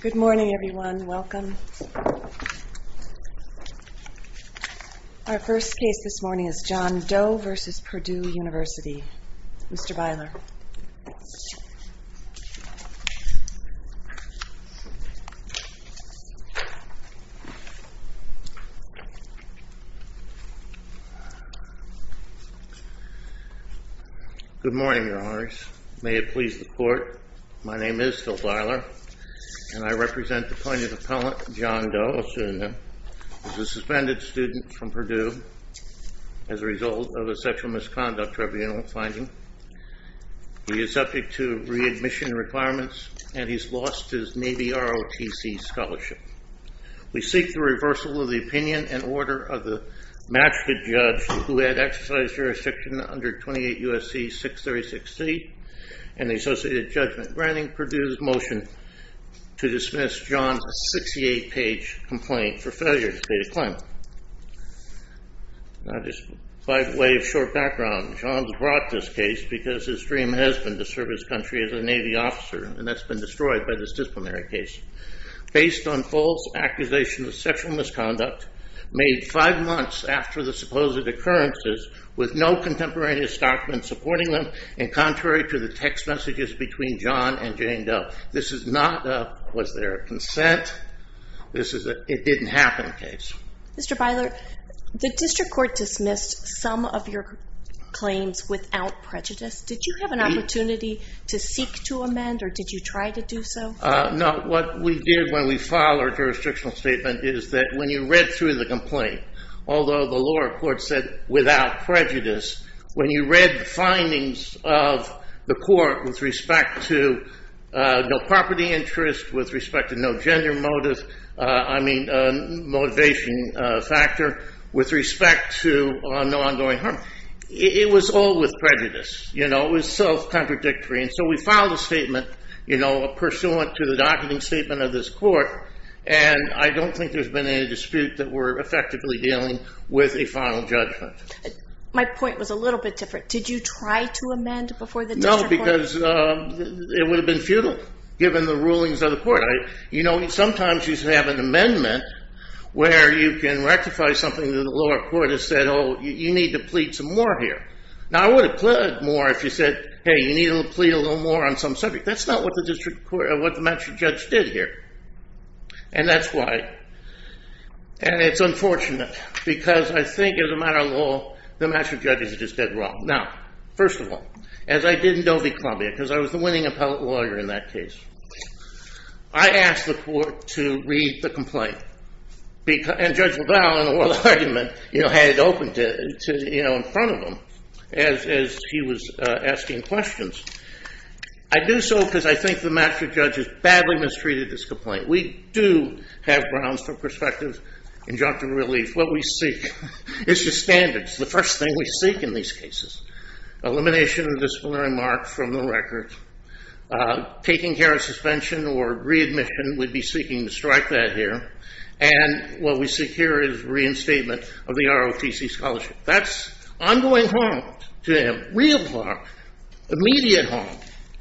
Good morning everyone, welcome. Our first case this morning is John Doe v. Purdue University. Mr. Beiler. Good morning, Your Honors. May it please the Court, my name is Phil Beiler, and I represent the plaintiff's appellant, John Doe, a student who is a suspended student from Purdue as a result of a sexual misconduct tribunal finding. He is subject to readmission requirements and he's lost his Navy ROTC scholarship. We seek the reversal of the opinion and order of the matricate judge who had exercise jurisdiction under 28 U.S.C. 636C and the associated judgment. Granting Purdue's motion to dismiss John's 68-page complaint for failure to state a claim. Now just by way of short background, John brought this case because his dream has been to serve his country as a Navy officer, and that's been destroyed by this disciplinary case. Based on false accusations of sexual misconduct made five months after the supposed occurrences with no contemporary historic men supporting them and contrary to the text messages between John and Jane Doe. This is not a was there a consent, this is a it didn't happen case. Mr. Beiler, the district court dismissed some of your claims without prejudice. Did you have an opportunity to seek to amend or did you try to do so? No, what we did when we filed our jurisdictional statement is that when you read through the complaint, although the lower court said without prejudice, when you read the findings of the court with respect to property interest, with respect to no gender motive, I mean motivation factor, with respect to no ongoing harm, it was all with prejudice. It was self-contradictory. And so we filed a statement pursuant to the docketing statement of this court, and I don't think there's been any dispute that we're effectively dealing with a final judgment. My point was a little bit different. Did you try to amend before the district court? No, because it would have been futile given the rulings of the court. Sometimes you should have an amendment where you can rectify something that the lower court has said, oh, you need to plead some more here. Now, I would have pleaded more if you said, hey, you need to plead a little more on some subject. That's not what the district court or what the magistrate judge did here. And that's why. And it's unfortunate, because I think as a matter of law, the magistrate judges are just dead wrong. Now, first of all, as I did in Dovey, Columbia, because I was the winning appellate lawyer in that case, I asked the court to read the complaint. And Judge LaValle, in the oral argument, had it open in front of him as he was asking questions. I do so because I think the magistrate judge has badly mistreated this complaint. We do have grounds for prospective injunctive relief. What we seek is the standards. The first thing we seek in these cases, elimination of disciplinary marks from the record, taking care of suspension or readmission. We'd be seeking to strike that here. And what we seek here is reinstatement of the ROTC scholarship. That's ongoing harm to him, real harm, immediate harm.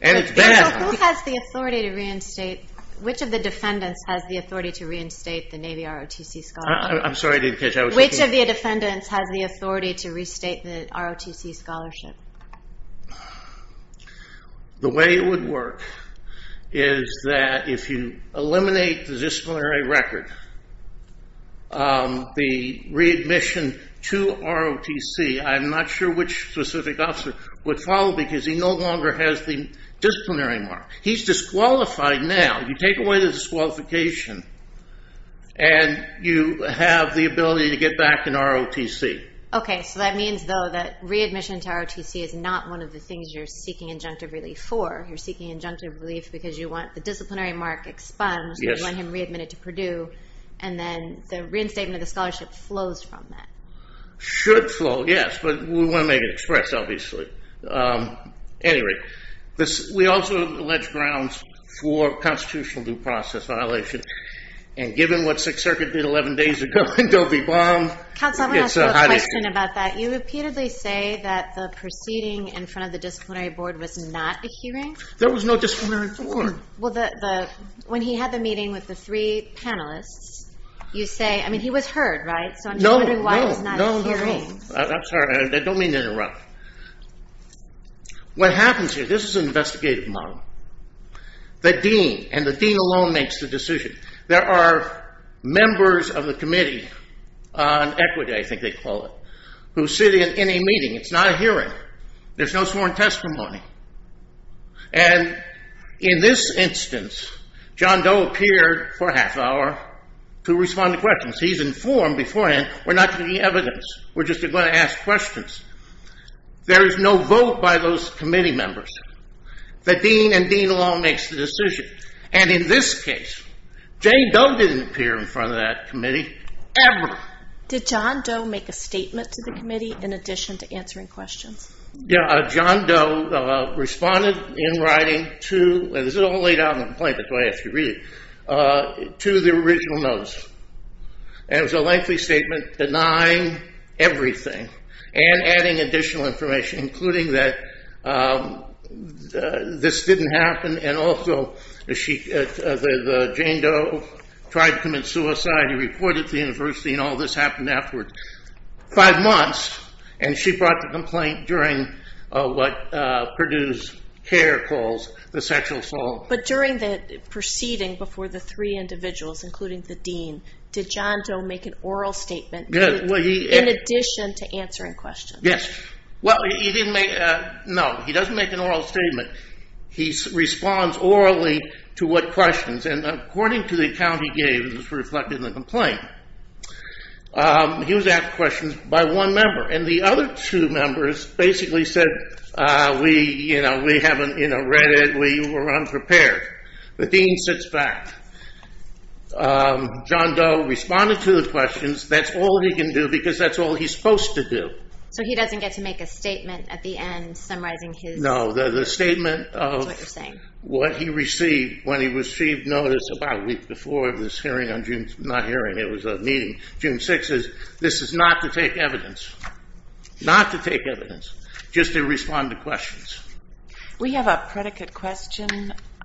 And it's bad. Who has the authority to reinstate? Which of the defendants has the authority to reinstate the Navy ROTC scholarship? I'm sorry, I didn't catch that. Which of the defendants has the authority to restate the ROTC scholarship? The way it would work is that if you eliminate the disciplinary record, the readmission to ROTC, I'm not sure which specific officer would follow because he no longer has the disciplinary mark. He's disqualified now. You take away the disqualification and you have the ability to get back in ROTC. Okay, so that means, though, that readmission to ROTC is not one of the things you're seeking injunctive relief for. You're seeking injunctive relief because you want the disciplinary mark expunged. You want him readmitted to Purdue. And then the reinstatement of the scholarship flows from that. Should flow, yes, but we want to make it express, obviously. Anyway, we also allege grounds for constitutional due process violation. And given what Sixth Circuit did 11 days ago in Doby Blum, it's a hot issue. Counsel, I want to ask you a question about that. You repeatedly say that the proceeding in front of the disciplinary board was not a hearing. There was no disciplinary board. Well, when he had the meeting with the three panelists, you say, I mean, he was heard, right? No, no, no. So I'm just wondering why it's not a hearing. I'm sorry, I don't mean to interrupt. What happens here, this is an investigative model. The dean, and the dean alone makes the decision. There are members of the committee on equity, I think they call it, who sit in any meeting. It's not a hearing. There's no sworn testimony. And in this instance, John Doe appeared for a half hour to respond to questions. He's informed beforehand, we're not going to need evidence. We're just going to ask questions. There is no vote by those committee members. The dean and dean alone makes the decision. And in this case, Jane Doe didn't appear in front of that committee, ever. Did John Doe make a statement to the committee in addition to answering questions? Yeah, John Doe responded in writing to, and this is all laid out in the complaint, that's why I asked you to read it, to the original notice. And it was a lengthy statement denying everything and adding additional information, including that this didn't happen. And also, Jane Doe tried to commit suicide, he reported to the university, and all this happened after five months. And she brought the complaint during what Purdue's CARE calls the sexual assault. But during the proceeding before the three individuals, including the dean, did John Doe make an oral statement in addition to answering questions? Yes. Well, no, he doesn't make an oral statement. He responds orally to what questions, and according to the account he gave, which was reflected in the complaint, he was asked questions by one member. And the other two members basically said, we haven't read it, we were unprepared. The dean sits back. John Doe responded to the questions. That's all he can do because that's all he's supposed to do. So he doesn't get to make a statement at the end, summarizing his? No. The statement of what he received when he received notice about a week before this hearing, not hearing, it was a meeting, June 6th, is this is not to take evidence, not to take evidence, just to respond to questions. We have a predicate question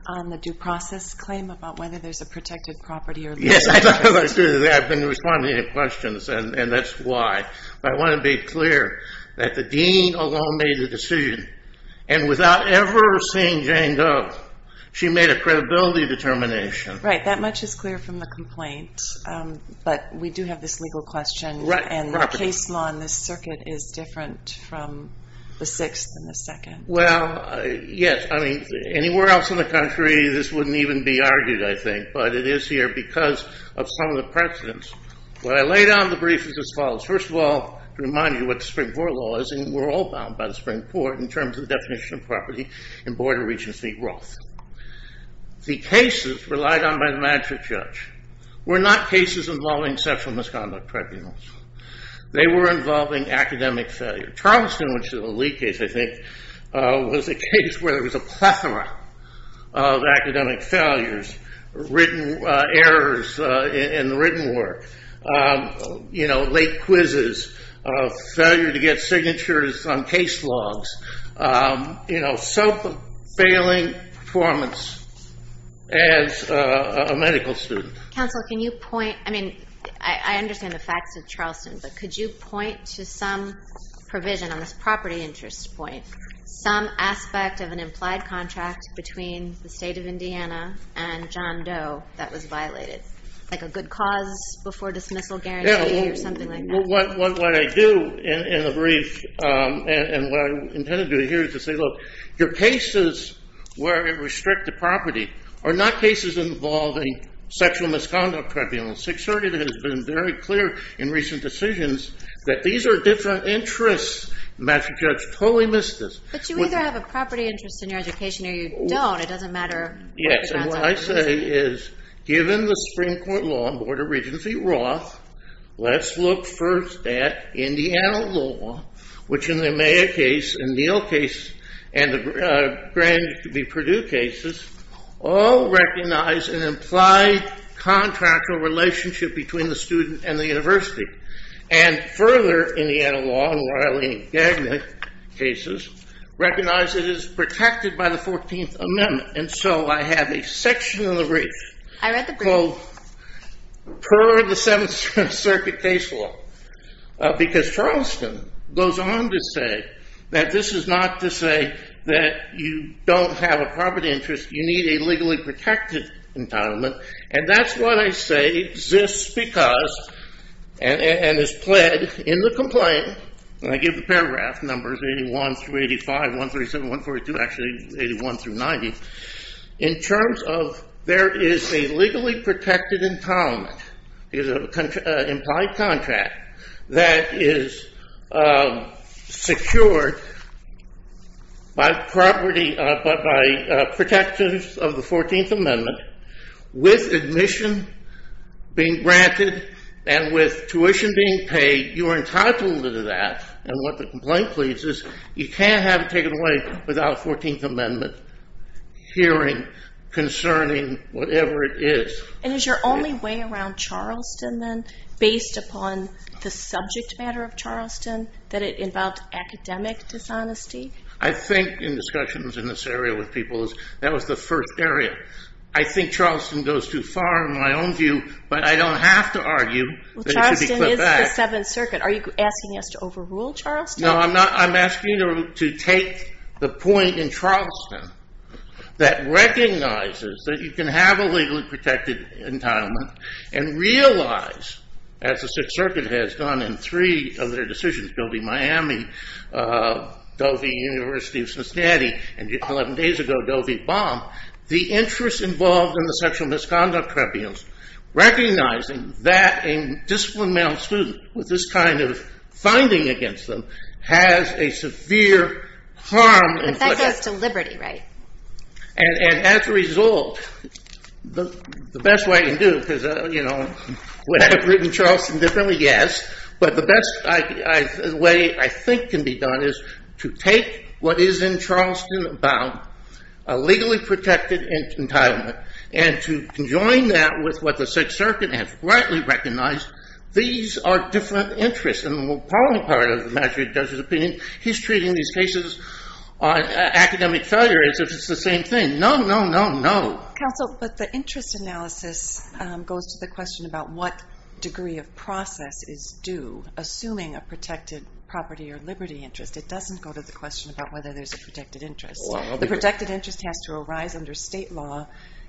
on the due process claim about whether there's a protected property or not. Yes, I've been responding to questions, and that's why. But I want to be clear that the dean alone made the decision, and without ever seeing Jane Doe, she made a credibility determination. Right. That much is clear from the complaint. But we do have this legal question, and the case law in this circuit is different from the sixth and the second. Well, yes. I mean, anywhere else in the country this wouldn't even be argued, I think. But it is here because of some of the precedents. What I laid out in the brief is as follows. First of all, to remind you what the spring court law is, and we're all bound by the spring court in terms of the definition of property in Board of Regents v. Roth. The cases relied on by the magistrate judge were not cases involving sexual misconduct tribunals. They were involving academic failure. Charleston, which is the lead case, I think, was a case where there was a plethora of academic failures, written errors in the written work, late quizzes, failure to get signatures on case logs, self-failing performance as a medical student. Counsel, can you point? I mean, I understand the facts of Charleston, but could you point to some provision on this property interest point, some aspect of an implied contract between the state of Indiana and John Doe that was violated, like a good cause before dismissal guarantee or something like that? What I do in the brief and what I intended to do here is to say, look, your cases where it restricts the property are not cases involving sexual misconduct tribunals. Sixth Circuit has been very clear in recent decisions that these are different interests. The master judge totally missed this. But you either have a property interest in your education or you don't. It doesn't matter. Yes, and what I say is, given the Supreme Court law on Board of Regency Roth, let's look first at Indiana law, which in the Amaya case and Neal case and the grand Purdue cases all recognize an implied contractual relationship between the student and the university. And further, Indiana law and Riley and Gagnon cases recognize it is protected by the 14th Amendment. And so I have a section of the brief called Per the Seventh Circuit Case Law because Charleston goes on to say that this is not to say that you don't have a property interest. You need a legally protected entitlement. And that's what I say exists because and is pled in the complaint. And I give the paragraph numbers 81 through 85, 137, 142, actually 81 through 90. In terms of there is a legally protected entitlement, is an implied contract that is secured by property, by protections of the 14th Amendment with admission being granted and with tuition being paid, you are entitled to that. And what the complaint pleads is you can't have it taken away without a 14th Amendment hearing concerning whatever it is. And is your only way around Charleston then based upon the subject matter of Charleston, that it involved academic dishonesty? I think in discussions in this area with people, that was the first area. I think Charleston goes too far in my own view, but I don't have to argue that it should be put back. Charleston is the Seventh Circuit. Are you asking us to overrule Charleston? No, I'm asking you to take the point in Charleston that recognizes that you can have a legally protected entitlement and realize, as the Sixth Circuit has done in three of their decisions, Dovey-Miami, Dovey-University of Cincinnati, and 11 days ago, Dovey-Baum, the interest involved in the sexual misconduct tribunals, recognizing that a disciplined male student with this kind of finding against them has a severe harm. But that goes to liberty, right? And as a result, the best way to do it, because would I have written Charleston differently? Yes. But the best way I think can be done is to take what is in Charleston about, a legally protected entitlement, and to conjoin that with what the Sixth Circuit has rightly recognized, these are different interests. And the more prominent part of the matter, in Judge's opinion, he's treating these cases on academic failure as if it's the same thing. No, no, no, no. Counsel, but the interest analysis goes to the question about what degree of process is due, assuming a protected property or liberty interest. It doesn't go to the question about whether there's a protected interest. The protected interest has to arise under state law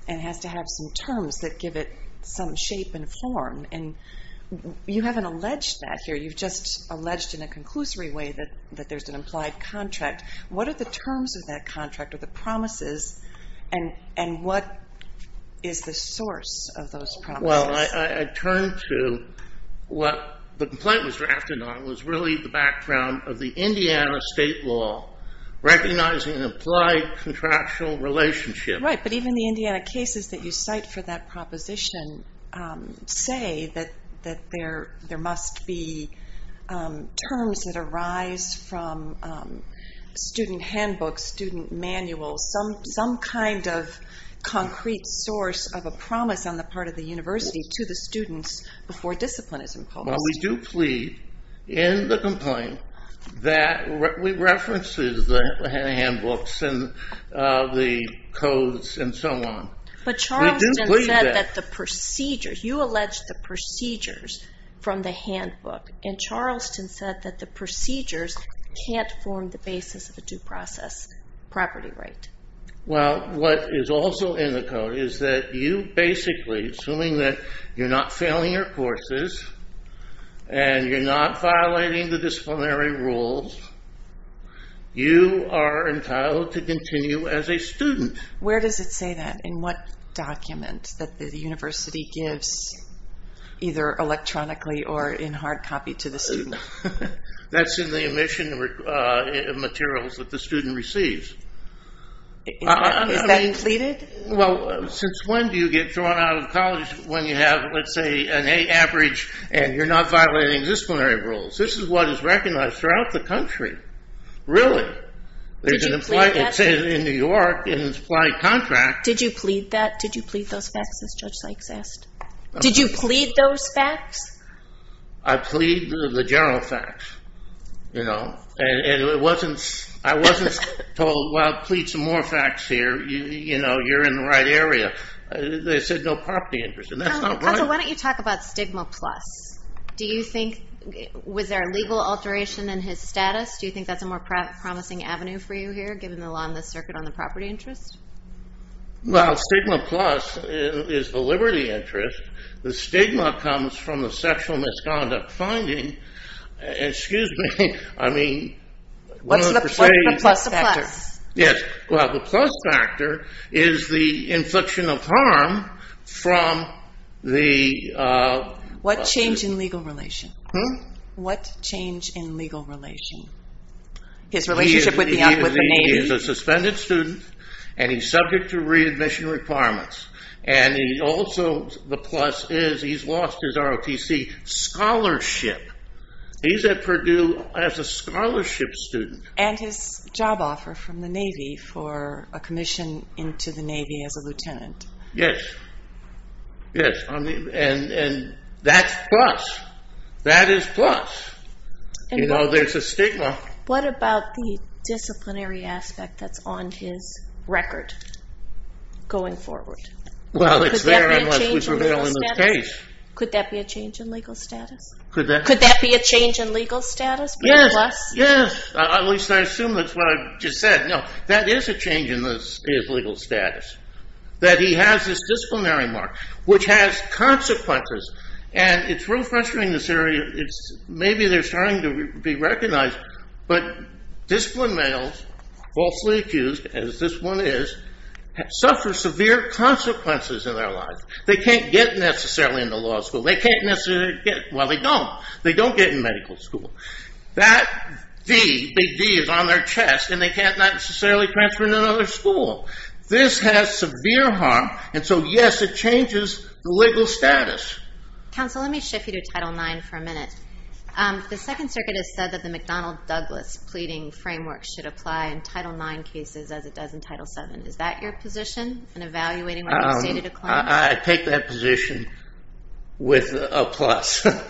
and has to have some terms that give it some shape and form. And you haven't alleged that here. You've just alleged in a conclusory way that there's an implied contract. What are the terms of that contract or the promises, and what is the source of those promises? Well, I turn to what the complaint was drafted on was really the background of the Indiana state law recognizing an implied contractual relationship. Right, but even the Indiana cases that you cite for that proposition say that there must be terms that arise from student handbooks, student manuals, some kind of concrete source of a promise on the part of the university to the students before discipline is imposed. Well, we do plead in the complaint that it references the handbooks and the codes and so on. But Charleston said that the procedures, you alleged the procedures from the handbook, and Charleston said that the procedures can't form the basis of a due process property right. Well, what is also in the code is that you basically, assuming that you're not failing your courses and you're not violating the disciplinary rules, you are entitled to continue as a student. Where does it say that? In what document that the university gives either electronically or in hard copy to the student? That's in the admission materials that the student receives. Is that pleaded? Well, since when do you get thrown out of college when you have, let's say, an A average and you're not violating disciplinary rules? This is what is recognized throughout the country, really. Did you plead that? It says in New York in implied contract. Did you plead that? Did you plead those facts, as Judge Sykes asked? Did you plead those facts? I plead the general facts, you know, and I wasn't told, well, plead some more facts here. You know, you're in the right area. They said no property interest, and that's not right. Counsel, why don't you talk about stigma plus? Do you think, was there a legal alteration in his status? Do you think that's a more promising avenue for you here, given the law in the circuit on the property interest? Well, stigma plus is the liberty interest. The stigma comes from the sexual misconduct finding. Excuse me, I mean... What's the plus factor? Yes, well, the plus factor is the infliction of harm from the... What changed in legal relation? Hmm? What changed in legal relation? His relationship with the... He is a suspended student, and he's subject to readmission requirements, and also the plus is he's lost his ROTC scholarship. He's at Purdue as a scholarship student. And his job offer from the Navy for a commission into the Navy as a lieutenant. Yes, yes, and that's plus. That is plus. You know, there's a stigma. What about the disciplinary aspect that's on his record going forward? Well, it's there unless we prevail in this case. Could that be a change in legal status? Could that be a change in legal status? Yes, yes, at least I assume that's what I just said. No, that is a change in his legal status, that he has this disciplinary mark, which has consequences. And it's real frustrating in this area. Maybe they're starting to be recognized, but disciplined males, falsely accused, as this one is, suffer severe consequences in their lives. They can't get necessarily into law school. They can't necessarily get... Well, they don't. They don't get in medical school. That V, big V, is on their chest, and they can't necessarily transfer to another school. This has severe harm, and so, yes, it changes the legal status. Counsel, let me shift you to Title IX for a minute. The Second Circuit has said that the McDonnell-Douglas pleading framework should apply in Title IX cases as it does in Title VII. Is that your position in evaluating what you say to decline? I take that position with a plus. The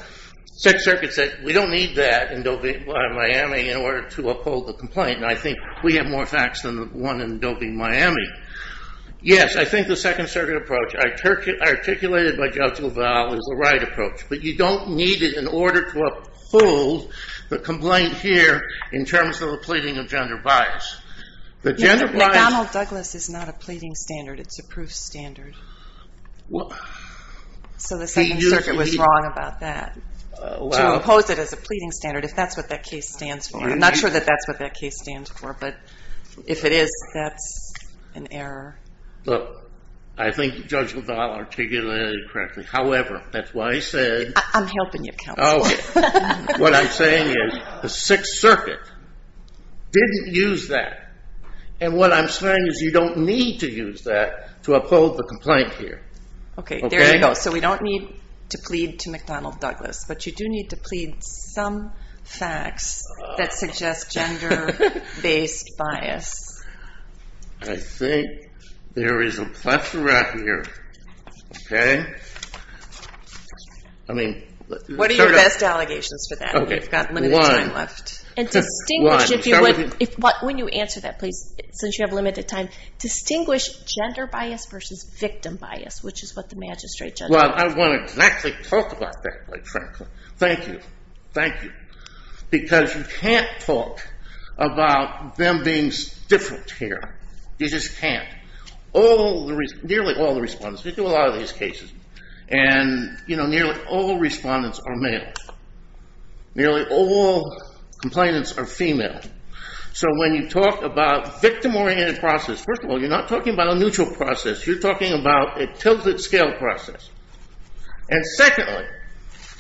Second Circuit said we don't need that in Miami in order to uphold the complaint, and I think we have more facts than the one in Doby, Miami. Yes, I think the Second Circuit approach, articulated by Judge LaValle, is the right approach, but you don't need it in order to uphold the complaint here in terms of the pleading of gender bias. McDonnell-Douglas is not a pleading standard. It's a proof standard. So the Second Circuit was wrong about that. To oppose it as a pleading standard, if that's what that case stands for. I'm not sure that that's what that case stands for, but if it is, that's an error. Look, I think Judge LaValle articulated it correctly. However, that's why I said... I'm helping you, Counselor. What I'm saying is the Sixth Circuit didn't use that, and what I'm saying is you don't need to use that to uphold the complaint here. Okay, there you go. So we don't need to plead to McDonnell-Douglas, but you do need to plead some facts that suggest gender-based bias. I think there is a plethora here. Okay? I mean... What are your best allegations for that? We've got limited time left. And distinguish... When you answer that, please, since you have limited time, distinguish gender bias versus victim bias, which is what the magistrate judge... Well, I want to exactly talk about that, quite frankly. Thank you. Thank you. Because you can't talk about them being different here. You just can't. Nearly all the respondents... We do a lot of these cases, and nearly all respondents are male. Nearly all complainants are female. So when you talk about victim-oriented process, first of all, you're not talking about a neutral process. You're talking about a tilted-scale process. And secondly,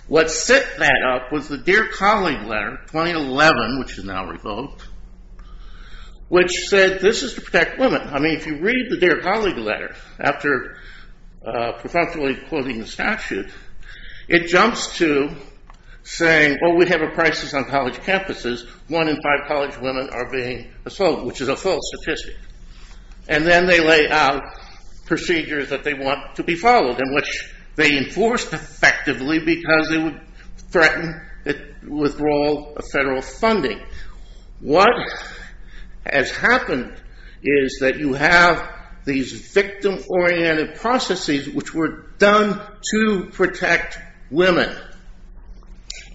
what set that up was the Dear Colleague Letter 2011, which is now revoked, which said this is to protect women. I mean, if you read the Dear Colleague Letter, after prefrontally quoting the statute, it jumps to saying, well, we have a crisis on college campuses. One in five college women are being assaulted, which is a false statistic. And then they lay out procedures that they want to be followed and which they enforce effectively because they would threaten withdrawal of federal funding. What has happened is that you have these victim-oriented processes which were done to protect women.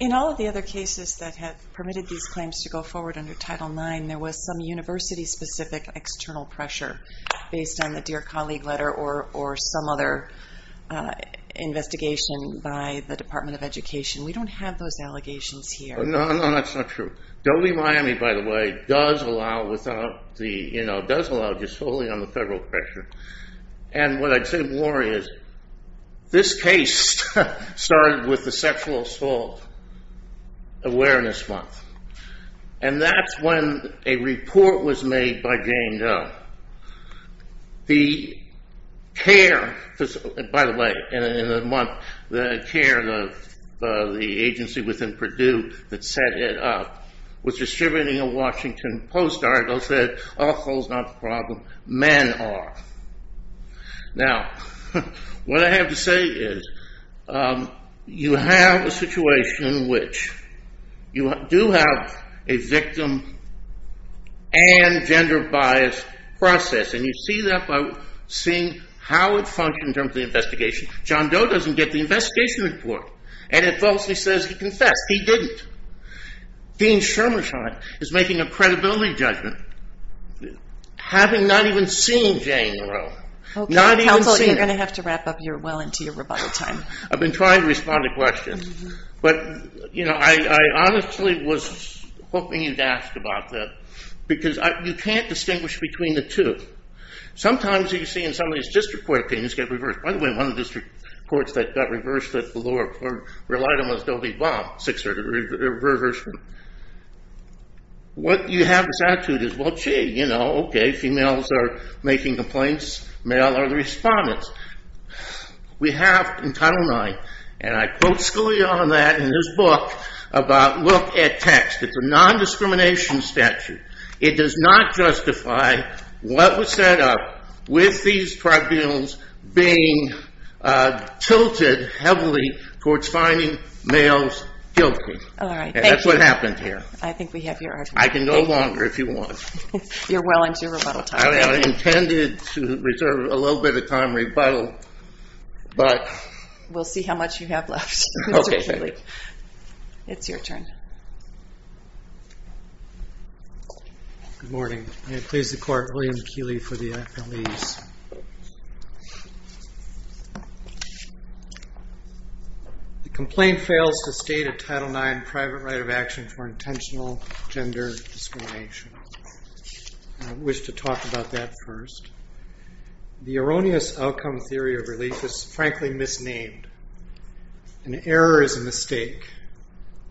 In all of the other cases that have permitted these claims to go forward under Title IX, there was some university-specific external pressure based on the Dear Colleague Letter or some other investigation by the Department of Education. We don't have those allegations here. No, no, that's not true. WMIA, by the way, does allow just solely on the federal pressure. And what I'd say more is, this case started with the sexual assault awareness month. And that's when a report was made by Jane Doe the care, by the way, in the month, the agency within Purdue that set it up was distributing a Washington Post article that said, assault is not the problem, men are. Now, what I have to say is, you have a situation in which you do have a victim and gender-biased process. And you see that by seeing how it functions in terms of the investigation. John Doe doesn't get the investigation report. And it falsely says he confessed. He didn't. Dean Sherman is making a credibility judgment having not even seen Jane Doe. Counsel, you're going to have to wrap up well into your rebuttal time. I've been trying to respond to questions. But, you know, I honestly was hoping you'd ask about that. Because you can't distinguish between the two. Sometimes you see in some of these district court opinions get reversed. By the way, one of the district courts that got reversed, the lower court relied on was Doe v. Baum. What you have is attitude is, well, gee, you know, okay. Females are making complaints. Male are the respondents. We have in Title IX, and I quote Scalia on that in his book, about look at text. It's a nondiscrimination statute. It does not justify what was set up with these tribunals being tilted heavily towards finding males guilty. That's what happened here. I think we have your argument. I can go longer if you want. You're well into your rebuttal time. I intended to reserve a little bit of time rebuttal. We'll see how much you have left, Mr. Keeley. It's your turn. Good morning. May it please the Court, William Keeley for the affidavits. The complaint fails to state a Title IX private right of action for intentional gender discrimination. I wish to talk about that first. The erroneous outcome theory of relief is frankly misnamed. An error is a mistake.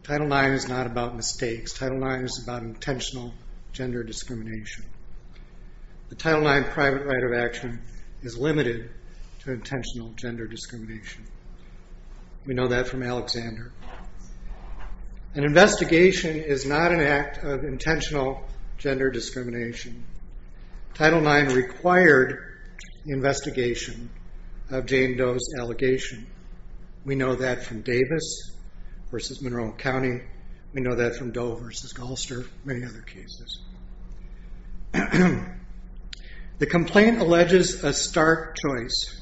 Title IX is not about mistakes. Title IX is about intentional gender discrimination. The Title IX private right of action is limited to intentional gender discrimination. We know that from Alexander. An investigation is not an act of intentional gender discrimination. Title IX required the investigation of Jane Doe's allegation. We know that from Davis versus Monroe County. We know that from Doe versus Goldster, many other cases. The complaint alleges a stark choice.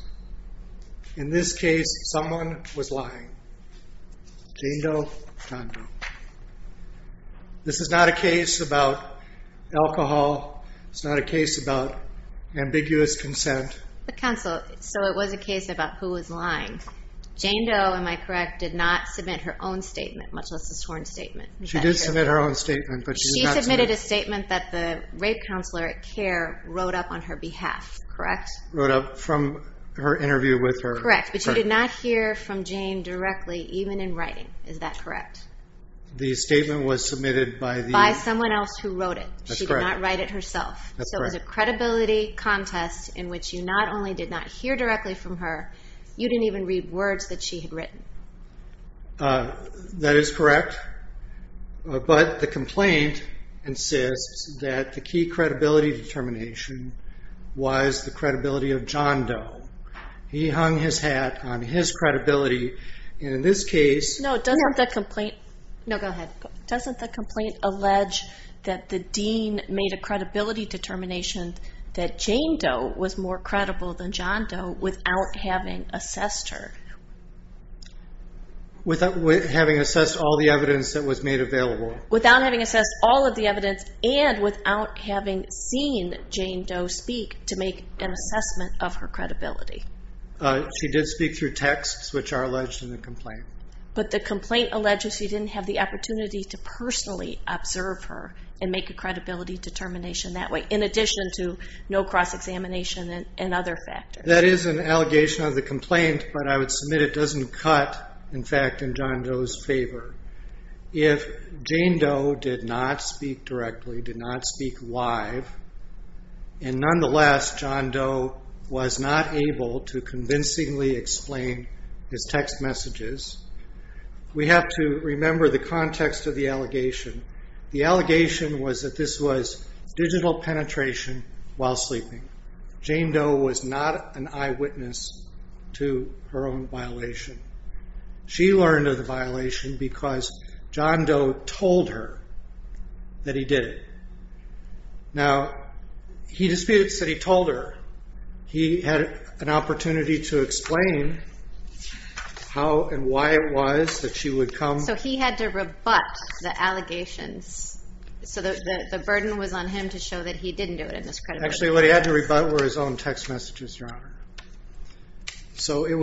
In this case, someone was lying, Jane Doe or Don Doe. This is not a case about alcohol. It's not a case about ambiguous consent. Counsel, so it was a case about who was lying. Jane Doe, am I correct, did not submit her own statement, much less a sworn statement. She did submit her own statement. She submitted a statement that the rape counselor at CARE wrote up on her behalf, correct? Wrote up from her interview with her. Correct, but she did not hear from Jane directly, even in writing. Is that correct? The statement was submitted by the- By someone else who wrote it. That's correct. She did not write it herself. That's correct. So it was a credibility contest in which you not only did not hear directly from her, you didn't even read words that she had written. That is correct. But the complaint insists that the key credibility determination was the credibility of John Doe. He hung his hat on his credibility. And in this case- No, doesn't the complaint- No, go ahead. Doesn't the complaint allege that the dean made a credibility determination that Jane Doe was more credible than John Doe without having assessed her? Without having assessed all the evidence that was made available. Without having assessed all of the evidence and without having seen Jane Doe speak to make an assessment of her credibility. She did speak through texts, which are alleged in the complaint. But the complaint alleges she didn't have the opportunity to personally observe her and make a credibility determination that way, in addition to no cross-examination and other factors. That is an allegation of the complaint, but I would submit it doesn't cut, in fact, in John Doe's favor. If Jane Doe did not speak directly, did not speak live, and nonetheless John Doe was not able to convincingly explain his text messages, we have to remember the context of the allegation. The allegation was that this was digital penetration while sleeping. Jane Doe was not an eyewitness to her own violation. She learned of the violation because John Doe told her that he did it. Now, he disputes that he told her. He had an opportunity to explain how and why it was that she would come. So he had to rebut the allegations. So the burden was on him to show that he didn't do it and was credible. Actually, what he had to rebut were his own text messages, Your Honor. So he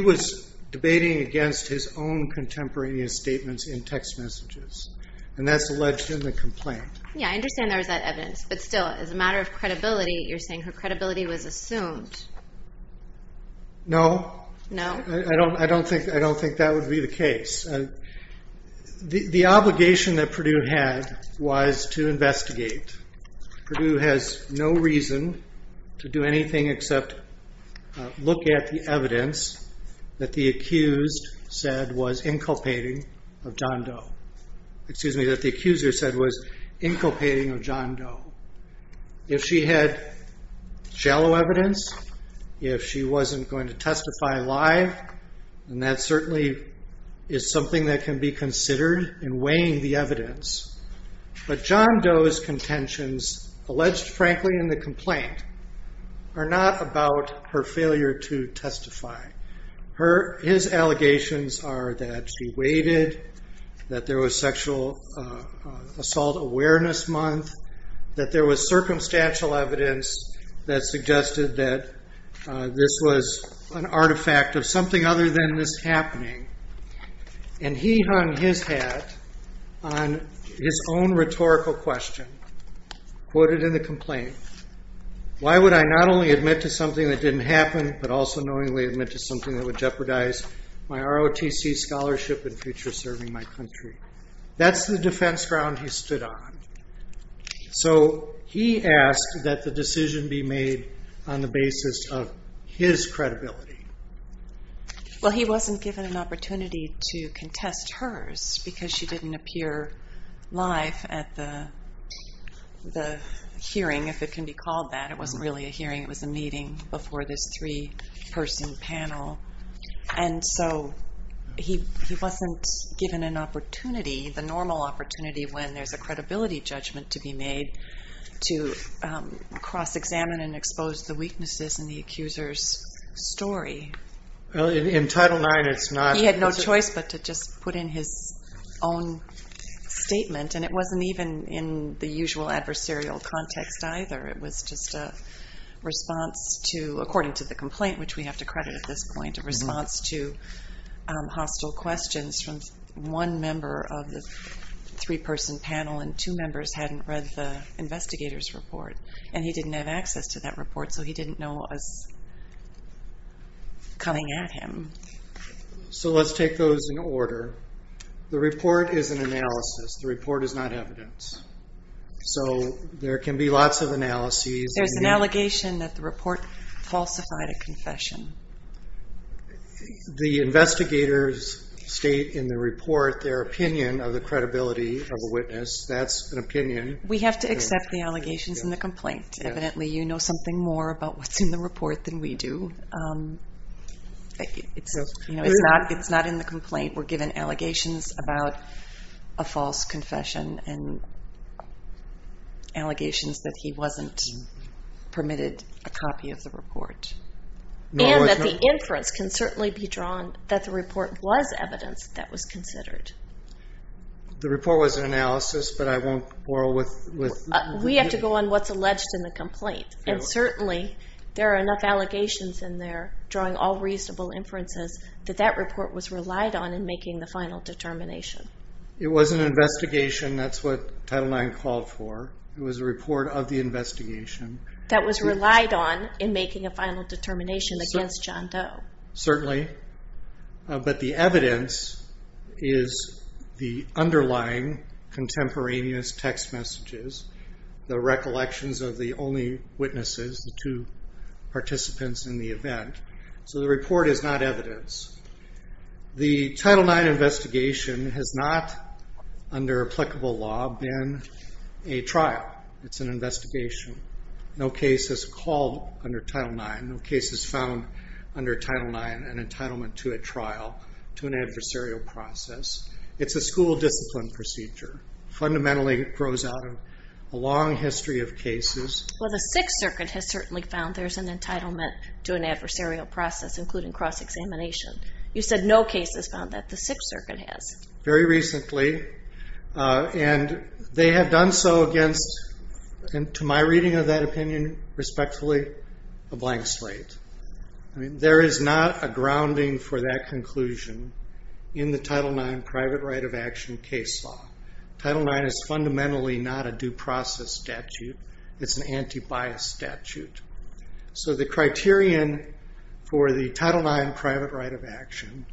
was debating against his own contemporaneous statements in text messages, and that's alleged in the complaint. Yeah, I understand there was that evidence, but still, as a matter of credibility, you're saying her credibility was assumed. No. I don't think that would be the case. The obligation that Purdue had was to investigate. Purdue has no reason to do anything except look at the evidence that the accused said was inculpating of John Doe. Excuse me, that the accuser said was inculpating of John Doe. If she had shallow evidence, if she wasn't going to testify live, then that certainly is something that can be considered in weighing the evidence. But John Doe's contentions, alleged frankly in the complaint, are not about her failure to testify. His allegations are that she waited, that there was sexual assault awareness month, that there was circumstantial evidence that suggested that this was an artifact of something other than this happening. And he hung his hat on his own rhetorical question quoted in the complaint. Why would I not only admit to something that didn't happen, but also knowingly admit to something that would jeopardize my ROTC scholarship and future serving my country? That's the defense ground he stood on. So he asked that the decision be made on the basis of his credibility. Well, he wasn't given an opportunity to contest hers because she didn't appear live at the hearing, if it can be called that. It wasn't really a hearing. It was a meeting before this three-person panel. And so he wasn't given an opportunity, the normal opportunity, when there's a credibility judgment to be made, to cross-examine and expose the weaknesses in the accuser's story. Well, in Title IX it's not. He had no choice but to just put in his own statement, and it wasn't even in the usual adversarial context either. It was just a response to, according to the complaint, which we have to credit at this point, a response to hostile questions from one member of the three-person panel, and two members hadn't read the investigator's report. And he didn't have access to that report, so he didn't know what was coming at him. So let's take those in order. The report is an analysis. The report is not evidence. So there can be lots of analyses. There's an allegation that the report falsified a confession. The investigators state in the report their opinion of the credibility of a witness. That's an opinion. We have to accept the allegations in the complaint. Evidently you know something more about what's in the report than we do. It's not in the complaint. We're given allegations about a false confession and allegations that he wasn't permitted a copy of the report. And that the inference can certainly be drawn that the report was evidence that was considered. The report was an analysis, but I won't quarrel with you. We have to go on what's alleged in the complaint. And certainly there are enough allegations in there, drawing all reasonable inferences, that that report was relied on in making the final determination. It was an investigation. That's what Title IX called for. It was a report of the investigation. That was relied on in making a final determination against John Doe. Certainly. But the evidence is the underlying contemporaneous text messages, the recollections of the only witnesses, the two participants in the event. So the report is not evidence. The Title IX investigation has not, under applicable law, been a trial. It's an investigation. No case has called under Title IX. No case has found under Title IX an entitlement to a trial, to an adversarial process. It's a school discipline procedure. Fundamentally it grows out of a long history of cases. Well, the Sixth Circuit has certainly found there's an entitlement to an adversarial process, including cross-examination. You said no case has found that. The Sixth Circuit has. Very recently. And they have done so against, to my reading of that opinion, respectfully, a blank slate. There is not a grounding for that conclusion in the Title IX private right of action case law. Title IX is fundamentally not a due process statute. It's an anti-bias statute. So the criterion for the Title IX private right of action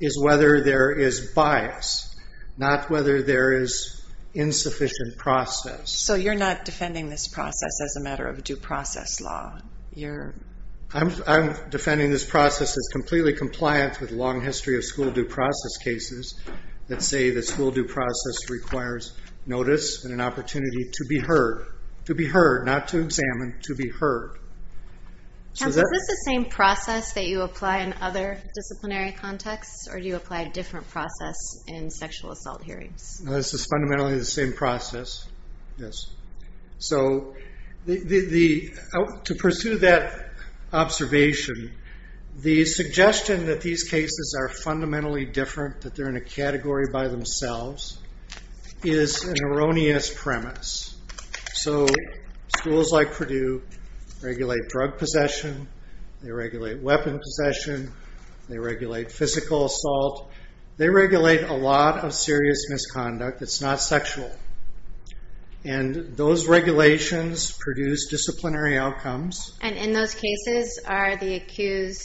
is whether there is bias, not whether there is insufficient process. So you're not defending this process as a matter of due process law? I'm defending this process as completely compliant with a long history of school due process cases that say that school due process requires notice and an opportunity to be heard. To be heard, not to examine, to be heard. Counsel, is this the same process that you apply in other disciplinary contexts, or do you apply a different process in sexual assault hearings? This is fundamentally the same process, yes. So to pursue that observation, the suggestion that these cases are fundamentally different, that they're in a category by themselves, is an erroneous premise. So schools like Purdue regulate drug possession. They regulate weapon possession. They regulate physical assault. They regulate a lot of serious misconduct that's not sexual. And those regulations produce disciplinary outcomes. And in those cases, are the accused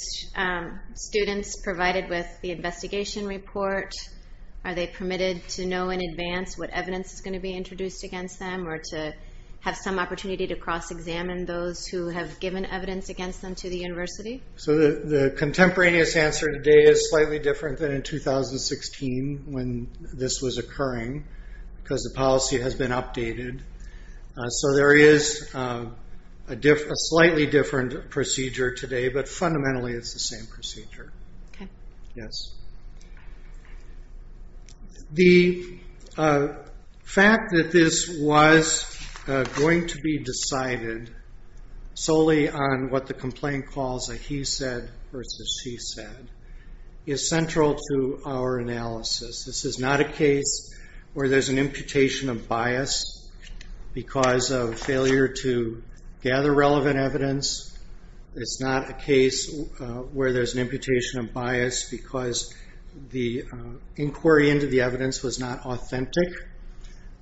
students provided with the investigation report? Are they permitted to know in advance what evidence is going to be introduced against them or to have some opportunity to cross-examine those who have given evidence against them to the university? So the contemporaneous answer today is slightly different than in 2016 when this was occurring because the policy has been updated. So there is a slightly different procedure today, but fundamentally it's the same procedure. The fact that this was going to be decided solely on what the complaint calls a he said versus she said is central to our analysis. This is not a case where there's an imputation of bias because of failure to gather relevant evidence. It's not a case where there's an imputation of bias because the inquiry into the evidence was not authentic.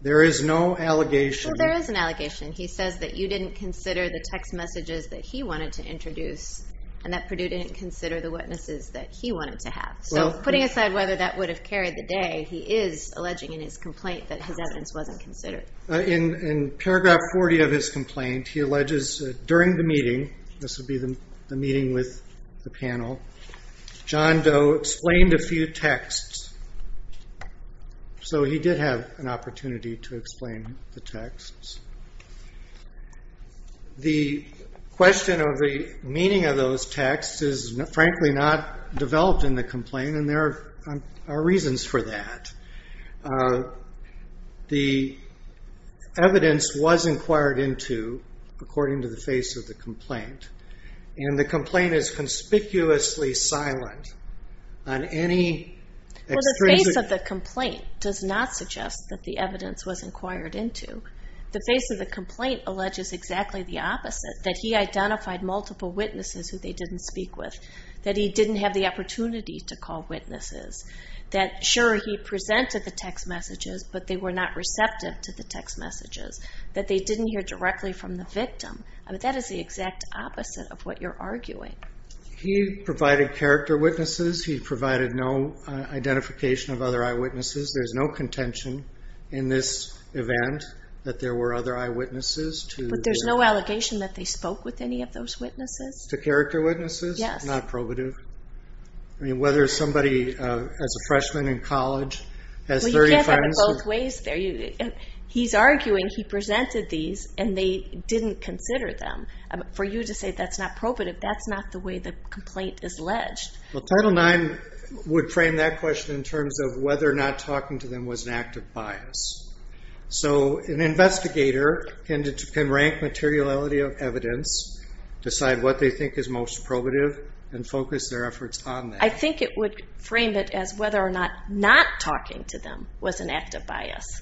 There is no allegation. Well, there is an allegation. He says that you didn't consider the text messages that he wanted to introduce and that Purdue didn't consider the witnesses that he wanted to have. So putting aside whether that would have carried the day, he is alleging in his complaint that his evidence wasn't considered. In paragraph 40 of his complaint, he alleges during the meeting, this would be the meeting with the panel, John Doe explained a few texts. So he did have an opportunity to explain the texts. The question of the meaning of those texts is, frankly, not developed in the complaint, and there are reasons for that. The evidence was inquired into, according to the face of the complaint, and the complaint is conspicuously silent on any extrinsic. Well, the face of the complaint does not suggest that the evidence was inquired into. The face of the complaint alleges exactly the opposite, that he identified multiple witnesses who they didn't speak with, that he didn't have the opportunity to call witnesses, that, sure, he presented the text messages, but they were not receptive to the text messages, that they didn't hear directly from the victim. That is the exact opposite of what you're arguing. He provided character witnesses. He provided no identification of other eyewitnesses. There's no contention in this event that there were other eyewitnesses. But there's no allegation that they spoke with any of those witnesses? To character witnesses? Yes. Not probative. I mean, whether somebody, as a freshman in college, has 35- Well, you can't have it both ways there. He's arguing he presented these and they didn't consider them. For you to say that's not probative, that's not the way the complaint is alleged. Well, Title IX would frame that question in terms of whether or not talking to them was an act of bias. So an investigator can rank materiality of evidence, decide what they think is most probative, and focus their efforts on that. I think it would frame it as whether or not not talking to them was an act of bias,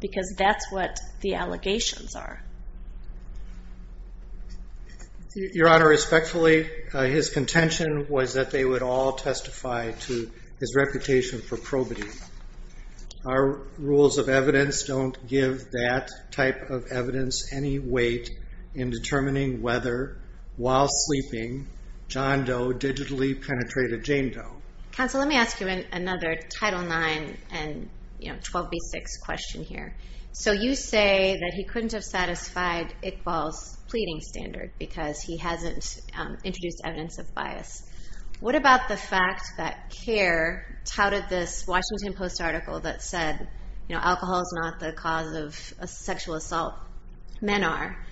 because that's what the allegations are. Your Honor, respectfully, his contention was that they would all testify to his reputation for probity. Our rules of evidence don't give that type of evidence any weight in determining whether, while sleeping, John Doe digitally penetrated Jane Doe. Counsel, let me ask you another Title IX and 12b6 question here. So you say that he couldn't have satisfied Iqbal's pleading standard because he hasn't introduced evidence of bias. What about the fact that Kerr touted this Washington Post article that said alcohol is not the cause of sexual assault, men are,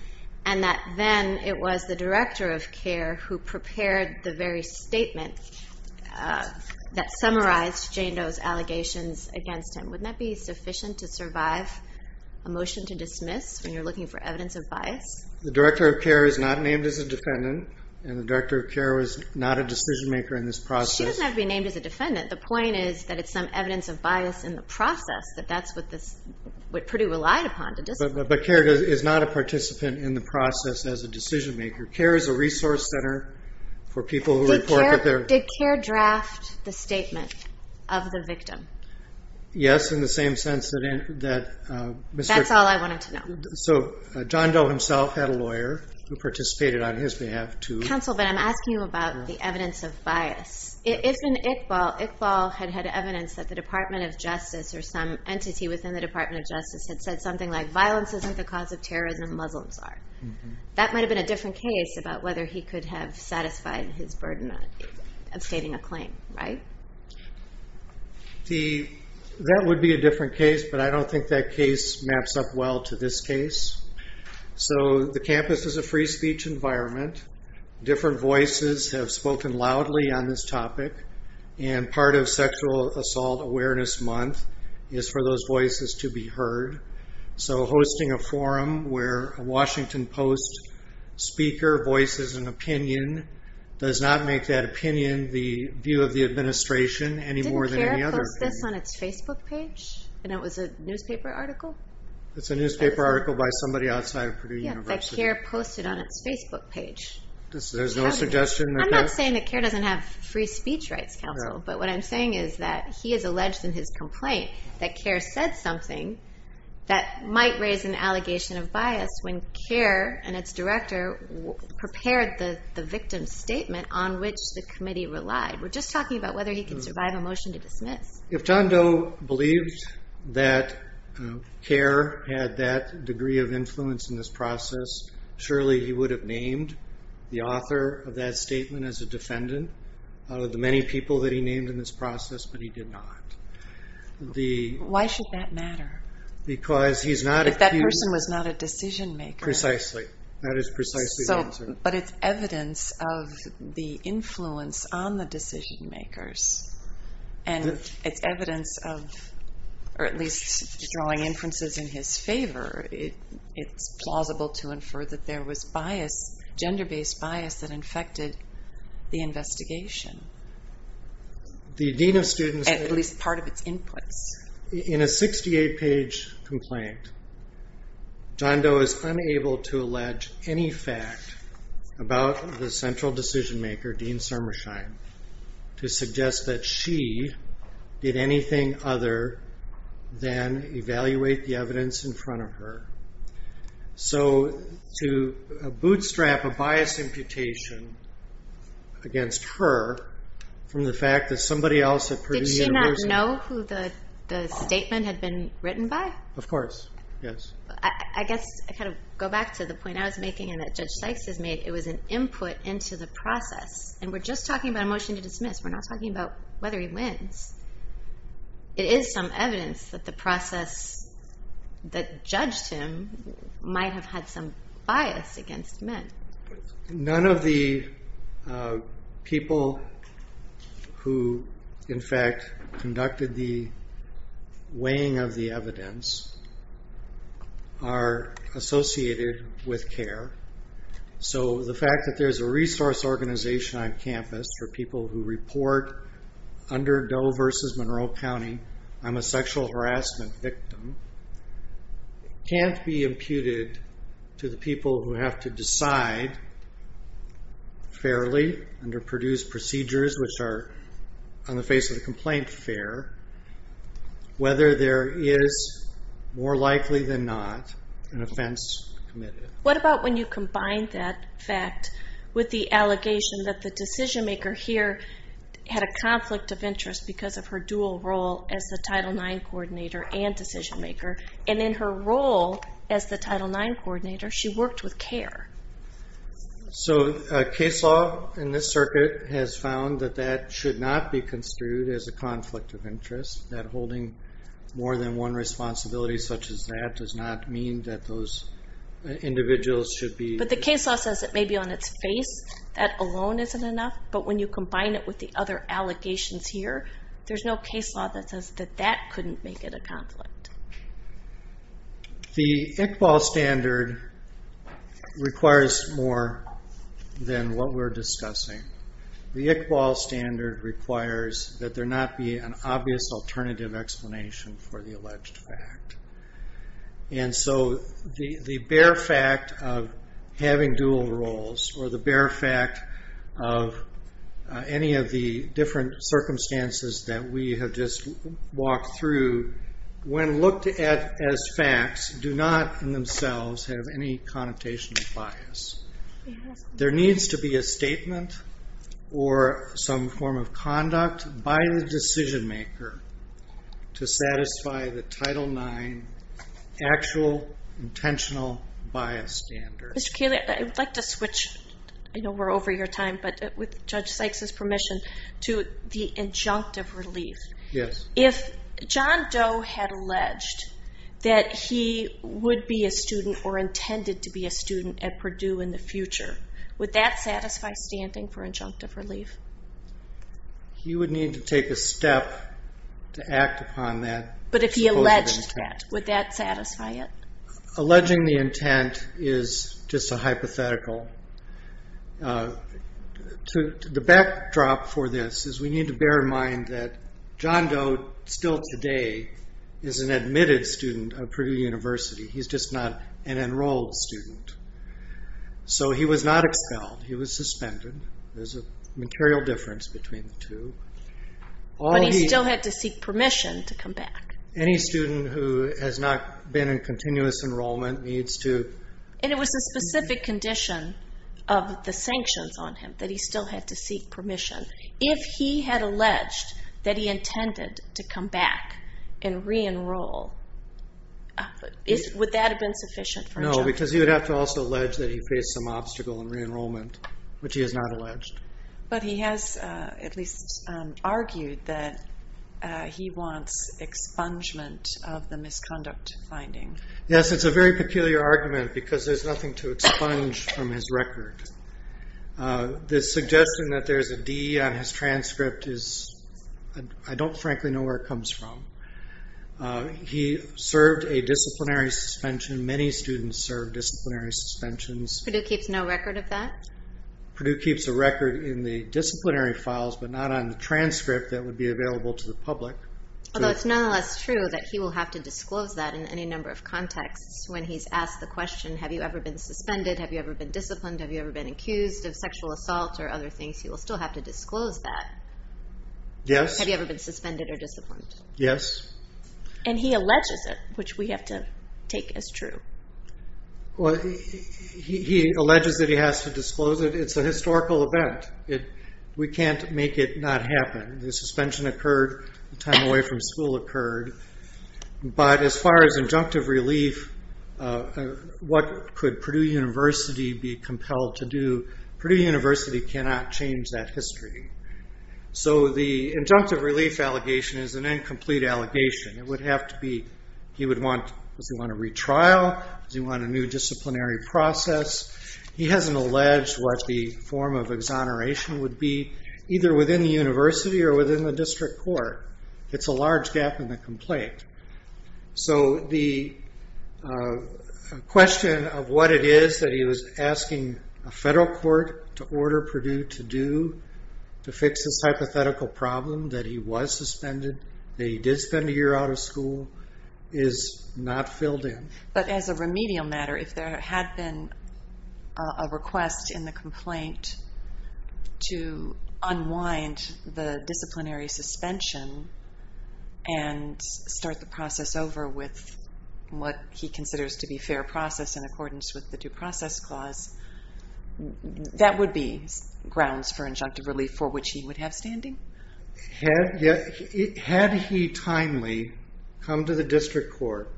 and that then it was the director of Kerr who prepared the very statement that summarized Jane Doe's allegations against him. Wouldn't that be sufficient to survive a motion to dismiss when you're looking for evidence of bias? The director of Kerr is not named as a defendant, and the director of Kerr was not a decision-maker in this process. She doesn't have to be named as a defendant. The point is that it's some evidence of bias in the process, that that's what Purdue relied upon to dismiss. But Kerr is not a participant in the process as a decision-maker. Kerr is a resource center for people who report that they're— Did Kerr draft the statement of the victim? Yes, in the same sense that— That's all I wanted to know. So John Doe himself had a lawyer who participated on his behalf to— Counsel, but I'm asking you about the evidence of bias. If in Iqbal, Iqbal had had evidence that the Department of Justice or some entity within the Department of Justice had said something like violence isn't the cause of terrorism, Muslims are, that might have been a different case about whether he could have satisfied his burden of stating a claim, right? That would be a different case, but I don't think that case maps up well to this case. So the campus is a free speech environment. Different voices have spoken loudly on this topic, and part of Sexual Assault Awareness Month is for those voices to be heard. So hosting a forum where a Washington Post speaker voices an opinion does not make that opinion the view of the administration any more than any other opinion. It was on its Facebook page, and it was a newspaper article. It's a newspaper article by somebody outside of Purdue University. Yeah, that CAIR posted on its Facebook page. There's no suggestion that— I'm not saying that CAIR doesn't have Free Speech Rights Council, but what I'm saying is that he has alleged in his complaint that CAIR said something that might raise an allegation of bias when CAIR and its director prepared the victim's statement on which the committee relied. We're just talking about whether he can survive a motion to dismiss. If John Doe believed that CAIR had that degree of influence in this process, surely he would have named the author of that statement as a defendant out of the many people that he named in this process, but he did not. Why should that matter? Because he's not— If that person was not a decision-maker. Precisely. That is precisely the answer. But it's evidence of the influence on the decision-makers, and it's evidence of, or at least drawing inferences in his favor, it's plausible to infer that there was gender-based bias that infected the investigation. At least part of its inputs. In a 68-page complaint, John Doe is unable to allege any fact about the central decision-maker, Dean Sermersheim, to suggest that she did anything other than evaluate the evidence in front of her. So to bootstrap a bias imputation against her from the fact that somebody else at Purdue University— Did she not know who the statement had been written by? Of course. Yes. I guess I kind of go back to the point I was making and that Judge Sykes has made. It was an input into the process, and we're just talking about a motion to dismiss. We're not talking about whether he wins. It is some evidence that the process that judged him None of the people who, in fact, conducted the weighing of the evidence are associated with CARE. So the fact that there's a resource organization on campus for people who report under Doe v. Monroe County I'm a sexual harassment victim can't be imputed to the people who have to decide fairly under Purdue's procedures, which are on the face of the complaint fair, whether there is, more likely than not, an offense committed. What about when you combine that fact with the allegation that the decision-maker here had a conflict of interest because of her dual role as the Title IX coordinator and decision-maker, and in her role as the Title IX coordinator she worked with CARE? So case law in this circuit has found that that should not be construed as a conflict of interest, that holding more than one responsibility such as that does not mean that those individuals should be But the case law says it may be on its face. That alone isn't enough, but when you combine it with the other allegations here, that couldn't make it a conflict. The ICBAL standard requires more than what we're discussing. The ICBAL standard requires that there not be an obvious alternative explanation for the alleged fact. And so the bare fact of having dual roles or the bare fact of any of the different circumstances that we have just walked through, when looked at as facts, do not in themselves have any connotation of bias. There needs to be a statement or some form of conduct by the decision-maker to satisfy the Title IX actual intentional bias standard. Mr. Kaley, I would like to switch. I know we're over your time, but with Judge Sykes' permission, to the injunctive relief. If John Doe had alleged that he would be a student or intended to be a student at Purdue in the future, would that satisfy standing for injunctive relief? He would need to take a step to act upon that. But if he alleged that, would that satisfy it? Alleging the intent is just a hypothetical. The backdrop for this is we need to bear in mind that John Doe, still today, is an admitted student of Purdue University. He's just not an enrolled student. So he was not expelled. He was suspended. There's a material difference between the two. But he still had to seek permission to come back. Any student who has not been in continuous enrollment needs to... And it was a specific condition of the sanctions on him that he still had to seek permission. If he had alleged that he intended to come back and re-enroll, would that have been sufficient for him? No, because he would have to also allege that he faced some obstacle in re-enrollment, which he has not alleged. But he has at least argued that he wants expungement of the misconduct finding. Yes, it's a very peculiar argument because there's nothing to expunge from his record. The suggestion that there's a D on his transcript is... I don't, frankly, know where it comes from. He served a disciplinary suspension. Many students serve disciplinary suspensions. Purdue keeps no record of that? Purdue keeps a record in the disciplinary files, but not on the transcript that would be available to the public. Although it's nonetheless true that he will have to disclose that in any number of contexts when he's asked the question, have you ever been suspended, have you ever been disciplined, have you ever been accused of sexual assault or other things, he will still have to disclose that. Have you ever been suspended or disciplined? Yes. And he alleges it, which we have to take as true. He alleges that he has to disclose it. It's a historical event. We can't make it not happen. The suspension occurred the time away from school occurred. But as far as injunctive relief, what could Purdue University be compelled to do? Purdue University cannot change that history. So the injunctive relief allegation is an incomplete allegation. It would have to be... Does he want a retrial? Does he want a new disciplinary process? He hasn't alleged what the form of exoneration would be, either within the university or within the district court. It's a large gap in the complaint. So the question of what it is that he was asking a federal court to order Purdue to do to fix this hypothetical problem that he was suspended, that he did spend a year out of school, is not filled in. But as a remedial matter, if there had been a request in the complaint to unwind the disciplinary suspension and start the process over with what he considers to be fair process in accordance with the Due Process Clause, that would be grounds for injunctive relief for which he would have standing? Had he timely come to the district court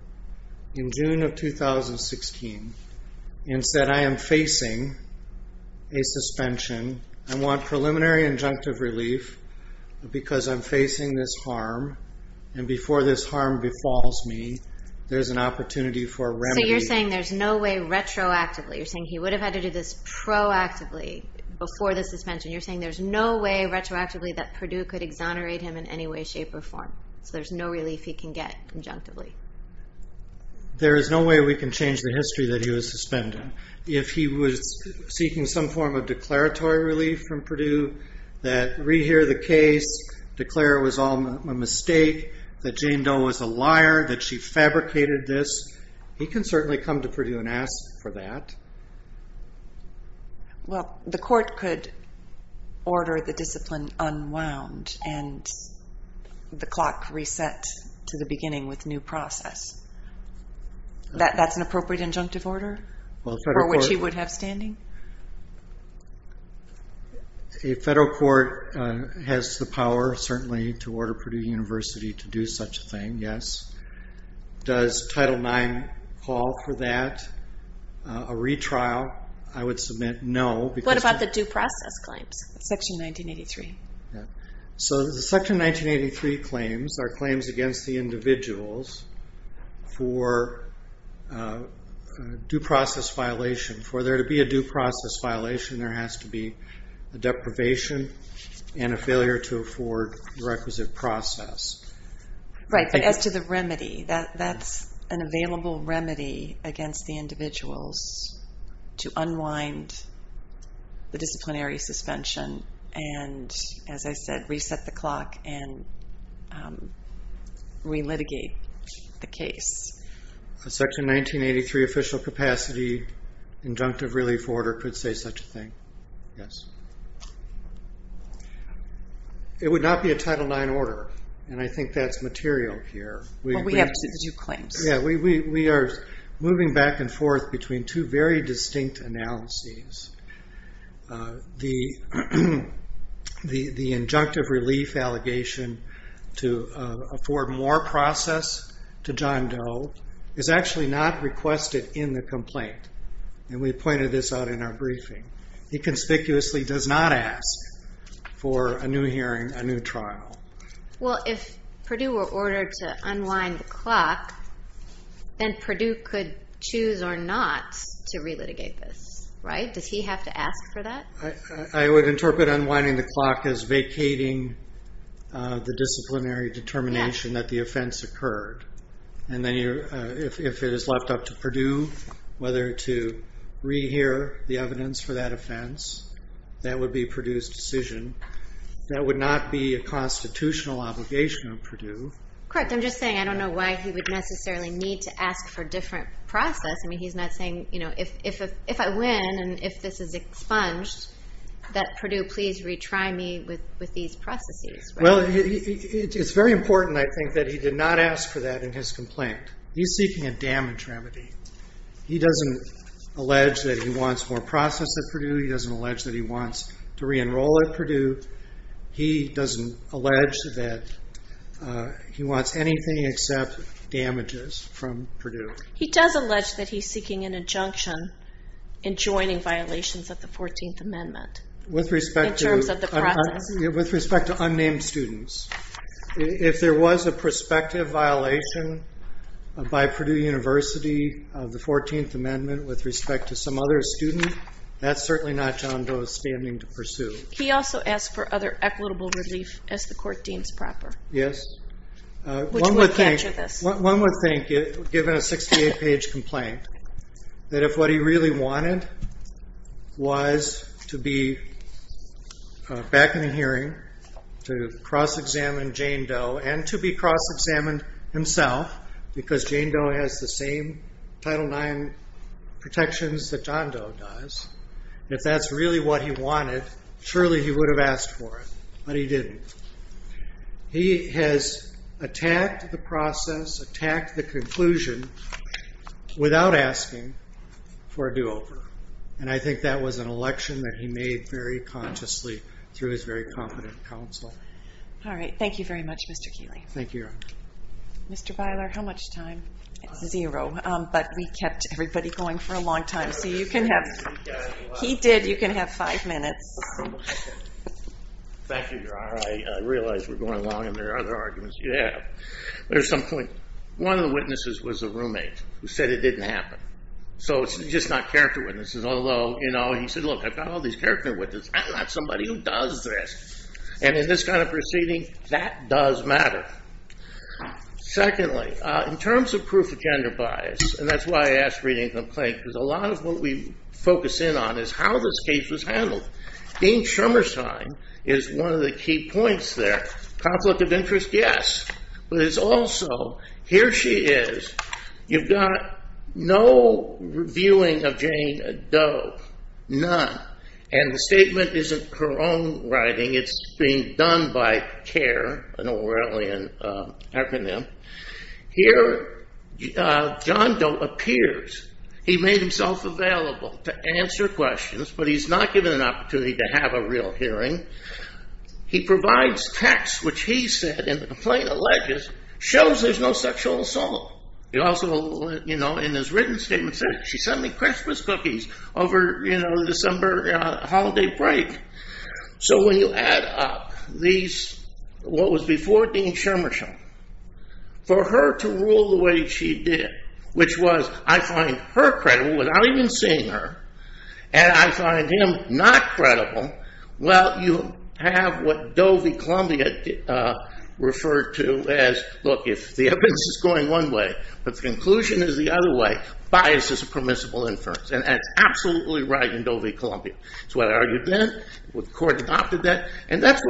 in June of 2016 and said, I am facing a suspension. I want preliminary injunctive relief because I'm facing this harm. And before this harm befalls me, there's an opportunity for remedy. So you're saying there's no way retroactively. You're saying he would have had to do this proactively before the suspension. You're saying there's no way retroactively that Purdue could exonerate him in any way, shape, or form. So there's no relief he can get conjunctively. There is no way we can change the history that he was suspended. If he was seeking some form of declaratory relief from Purdue, that rehear the case, declare it was all a mistake, that Jane Doe was a liar, that she fabricated this, he can certainly come to Purdue and ask for that. Well, the court could order the discipline unwound and the clock reset to the beginning with new process. That's an appropriate injunctive order for which he would have standing? A federal court has the power, certainly, to order Purdue University to do such a thing, yes. Does Title IX call for that? A retrial, I would submit no. What about the due process claims? Section 1983. So the Section 1983 claims are claims against the individuals for a due process violation. For there to be a due process violation, there has to be a deprivation and a failure to afford the requisite process. Right, but as to the remedy, that's an available remedy against the individuals to unwind the disciplinary suspension and, as I said, reset the clock and re-litigate the case. A Section 1983 official capacity injunctive relief order could say such a thing, yes. It would not be a Title IX order, and I think that's material here. Well, we have to do claims. Yeah, we are moving back and forth between two very distinct analyses. The injunctive relief allegation to afford more process to John Doe is actually not requested in the complaint, and we pointed this out in our briefing. He conspicuously does not ask for a new hearing, a new trial. Well, if Purdue were ordered to unwind the clock, then Purdue could choose or not to re-litigate this, right? Does he have to ask for that? I would interpret unwinding the clock as vacating the disciplinary determination that the offense occurred, and then if it is left up to Purdue whether to re-hear the evidence for that offense, that would be Purdue's decision. That would not be a constitutional obligation of Purdue. Correct. I'm just saying I don't know why he would necessarily need to ask for a different process. I mean, he's not saying, you know, if I win and if this is expunged, that Purdue please retry me with these processes. Well, it's very important, I think, that he did not ask for that in his complaint. He's seeking a damage remedy. He doesn't allege that he wants more process at Purdue. He doesn't allege that he wants to re-enroll at Purdue. He doesn't allege that he wants anything except damages from Purdue. He does allege that he's seeking an injunction in joining violations of the 14th Amendment in terms of the process. With respect to unnamed students, if there was a prospective violation by Purdue University of the 14th Amendment with respect to some other student, that's certainly not John Doe's standing to pursue. He also asked for other equitable relief, as the court deems proper. Yes. Which would capture this. One would think, given a 68-page complaint, that if what he really wanted was to be back in the hearing to cross-examine Jane Doe and to be cross-examined himself, because Jane Doe has the same Title IX protections that John Doe does, if that's really what he wanted, surely he would have asked for it. But he didn't. He has attacked the process, attacked the conclusion, without asking for a do-over. And I think that was an election that he made very consciously through his very competent counsel. All right. Thank you very much, Mr. Keeley. Thank you. Mr. Beiler, how much time? Zero. But we kept everybody going for a long time, so you can have... He did. You can have five minutes. Thank you, Your Honor. I realize we're going long, and there are other arguments you have. There's some point... One of the witnesses was a roommate who said it didn't happen. So it's just not character witnesses, although, you know, he said, look, I've got all these character witnesses. I'm not somebody who does this. And in this kind of proceeding, that does matter. Secondly, in terms of proof of gender bias, and that's why I asked for any complaint, because a lot of what we focus in on is how this case was handled. Dean Shumersheim is one of the key points there. Conflict of interest? Yes. But it's also... Here she is. You've got no reviewing of Jane Doe. None. And the statement isn't her own writing. It's being done by CARE, an Orwellian acronym. Here, John Doe appears. He made himself available to answer questions, but he's not given an opportunity to have a real hearing. He provides text, which he said, and the complaint alleges, shows there's no sexual assault. He also, you know, in his written statement, says she sent me Christmas cookies over, you know, the December holiday break. So when you add up these... What was before Dean Shumersheim, for her to rule the way she did, which was, I find her credible without even seeing her, and I find him not credible, well, you have what Doe v. Columbia referred to as, look, if the evidence is going one way, but the conclusion is the other way, bias is a permissible inference. And that's absolutely right in Doe v. Columbia. It's what I argued then. The court adopted that. And that's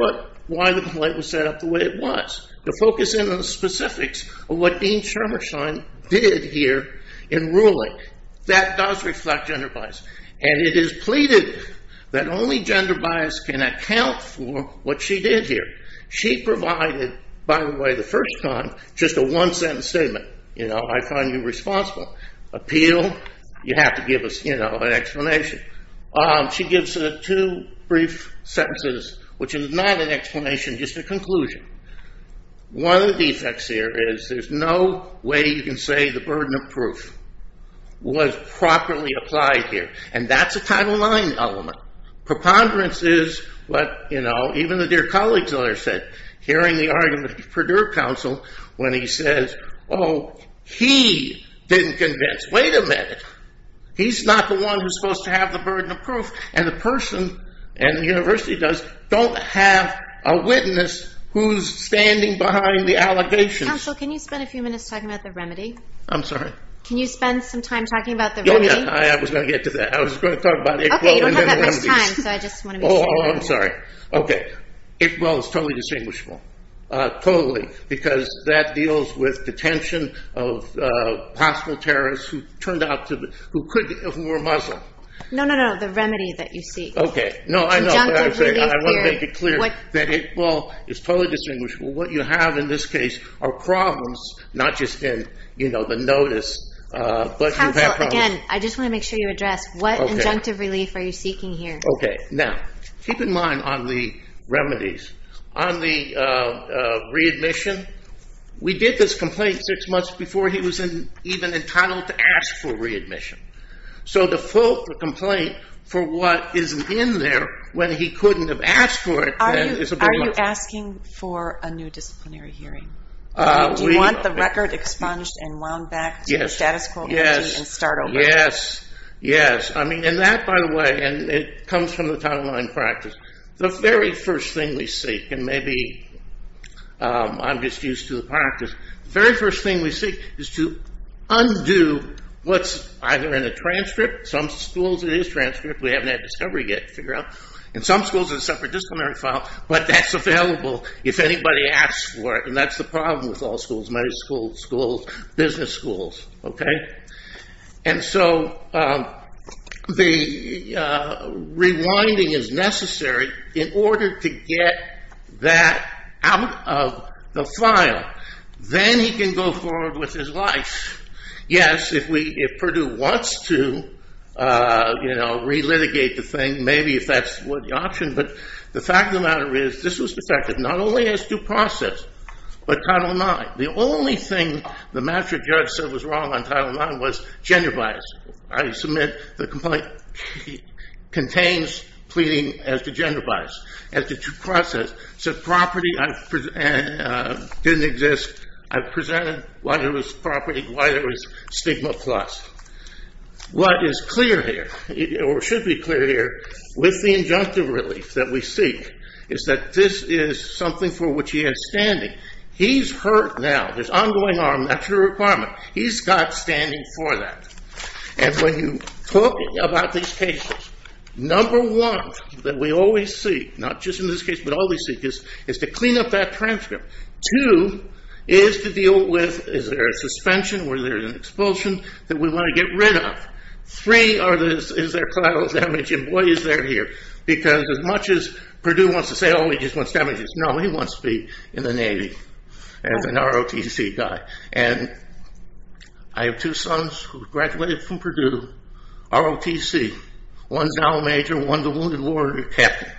why the complaint was set up the way it was, to focus in on the specifics of what Dean Shumersheim did here in ruling. That does reflect gender bias. And it is pleaded that only gender bias can account for what she did here. She provided, by the way, the first time, just a one-sentence statement. You know, I find you responsible. Appeal, you have to give us, you know, an explanation. She gives it two brief sentences, which is not an explanation, just a conclusion. One of the defects here is there's no way you can say the burden of proof was properly applied here. And that's a Title IX element. Preponderance is what, you know, even the dear colleague's lawyer said, hearing the argument of the Purdue Council, when he says, oh, he didn't convince. Wait a minute. He's not the one who's supposed to have the burden of proof. And the person, and the university does, don't have a witness who's standing behind the allegations. Counsel, can you spend a few minutes talking about the remedy? I'm sorry? Can you spend some time talking about the remedy? Oh, yeah, I was going to get to that. I was going to talk about it. Okay, you don't have that much time, so I just want to make sure. Oh, I'm sorry. Okay. Well, it's totally distinguishable. Totally. Because that deals with detention of hostile terrorists who turned out to be, who were Muslim. No, no, no, the remedy that you seek. Okay. No, I know what I'm saying. I want to make it clear. Well, it's totally distinguishable. What you have in this case are problems, not just in, you know, the notice. Counsel, again, I just want to make sure you address what injunctive relief are you seeking here? Okay, now, keep in mind on the remedies. On the readmission, we did this complaint six months before he was even entitled to ask for readmission. So to fault the complaint for what isn't in there when he couldn't have asked for it, then it's a bit much. Are you asking for a new disciplinary hearing? Do you want the record expunged and wound back to the status quo? Yes. And start over? Yes, yes. I mean, and that, by the way, and it comes from the Title IX practice, the very first thing we seek, and maybe I'm just used to the practice, the very first thing we seek is to undo what's either in a transcript, some schools it is transcript, we haven't had discovery yet to figure out, and some schools it's a separate disciplinary file, but that's available if anybody asks for it, and that's the problem with all schools, medical schools, business schools, okay? And so the rewinding is necessary in order to get that out of the file. Then he can go forward with his life. Yes, if Purdue wants to, you know, re-litigate the thing, maybe if that's the option, but the fact of the matter is, this was protected not only as due process, but Title IX. The only thing the master judge said was wrong on Title IX was gender bias. I submit the complaint contains pleading as to gender bias, as to due process. So property didn't exist. I presented why there was property, why there was stigma plus. What is clear here, or should be clear here, with the injunctive relief that we seek is that this is something for which he has standing. He's hurt now. There's ongoing harm, that's your requirement. He's got standing for that. And when you talk about these cases, number one that we always seek, not just in this case, but all we seek is to clean up that transcript. Two, is to deal with, is there a suspension, or is there an expulsion, that we want to get rid of. Three, is there collateral damage, and boy is there here. Because as much as Purdue wants to say, oh he just wants damages, no, he wants to be in the Navy as an ROTC guy. And I have two sons who graduated from Purdue, ROTC. One's now a major, one's a wounded warrior captain.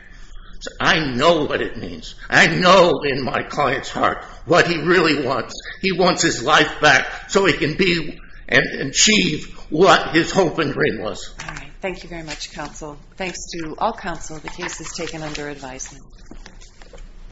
So I know what it means. I know in my client's heart, what he really wants. He wants his life back, so he can be, and achieve, what his hope and dream was. Alright, thank you very much counsel. Thanks to all counsel, the case is taken under advisement.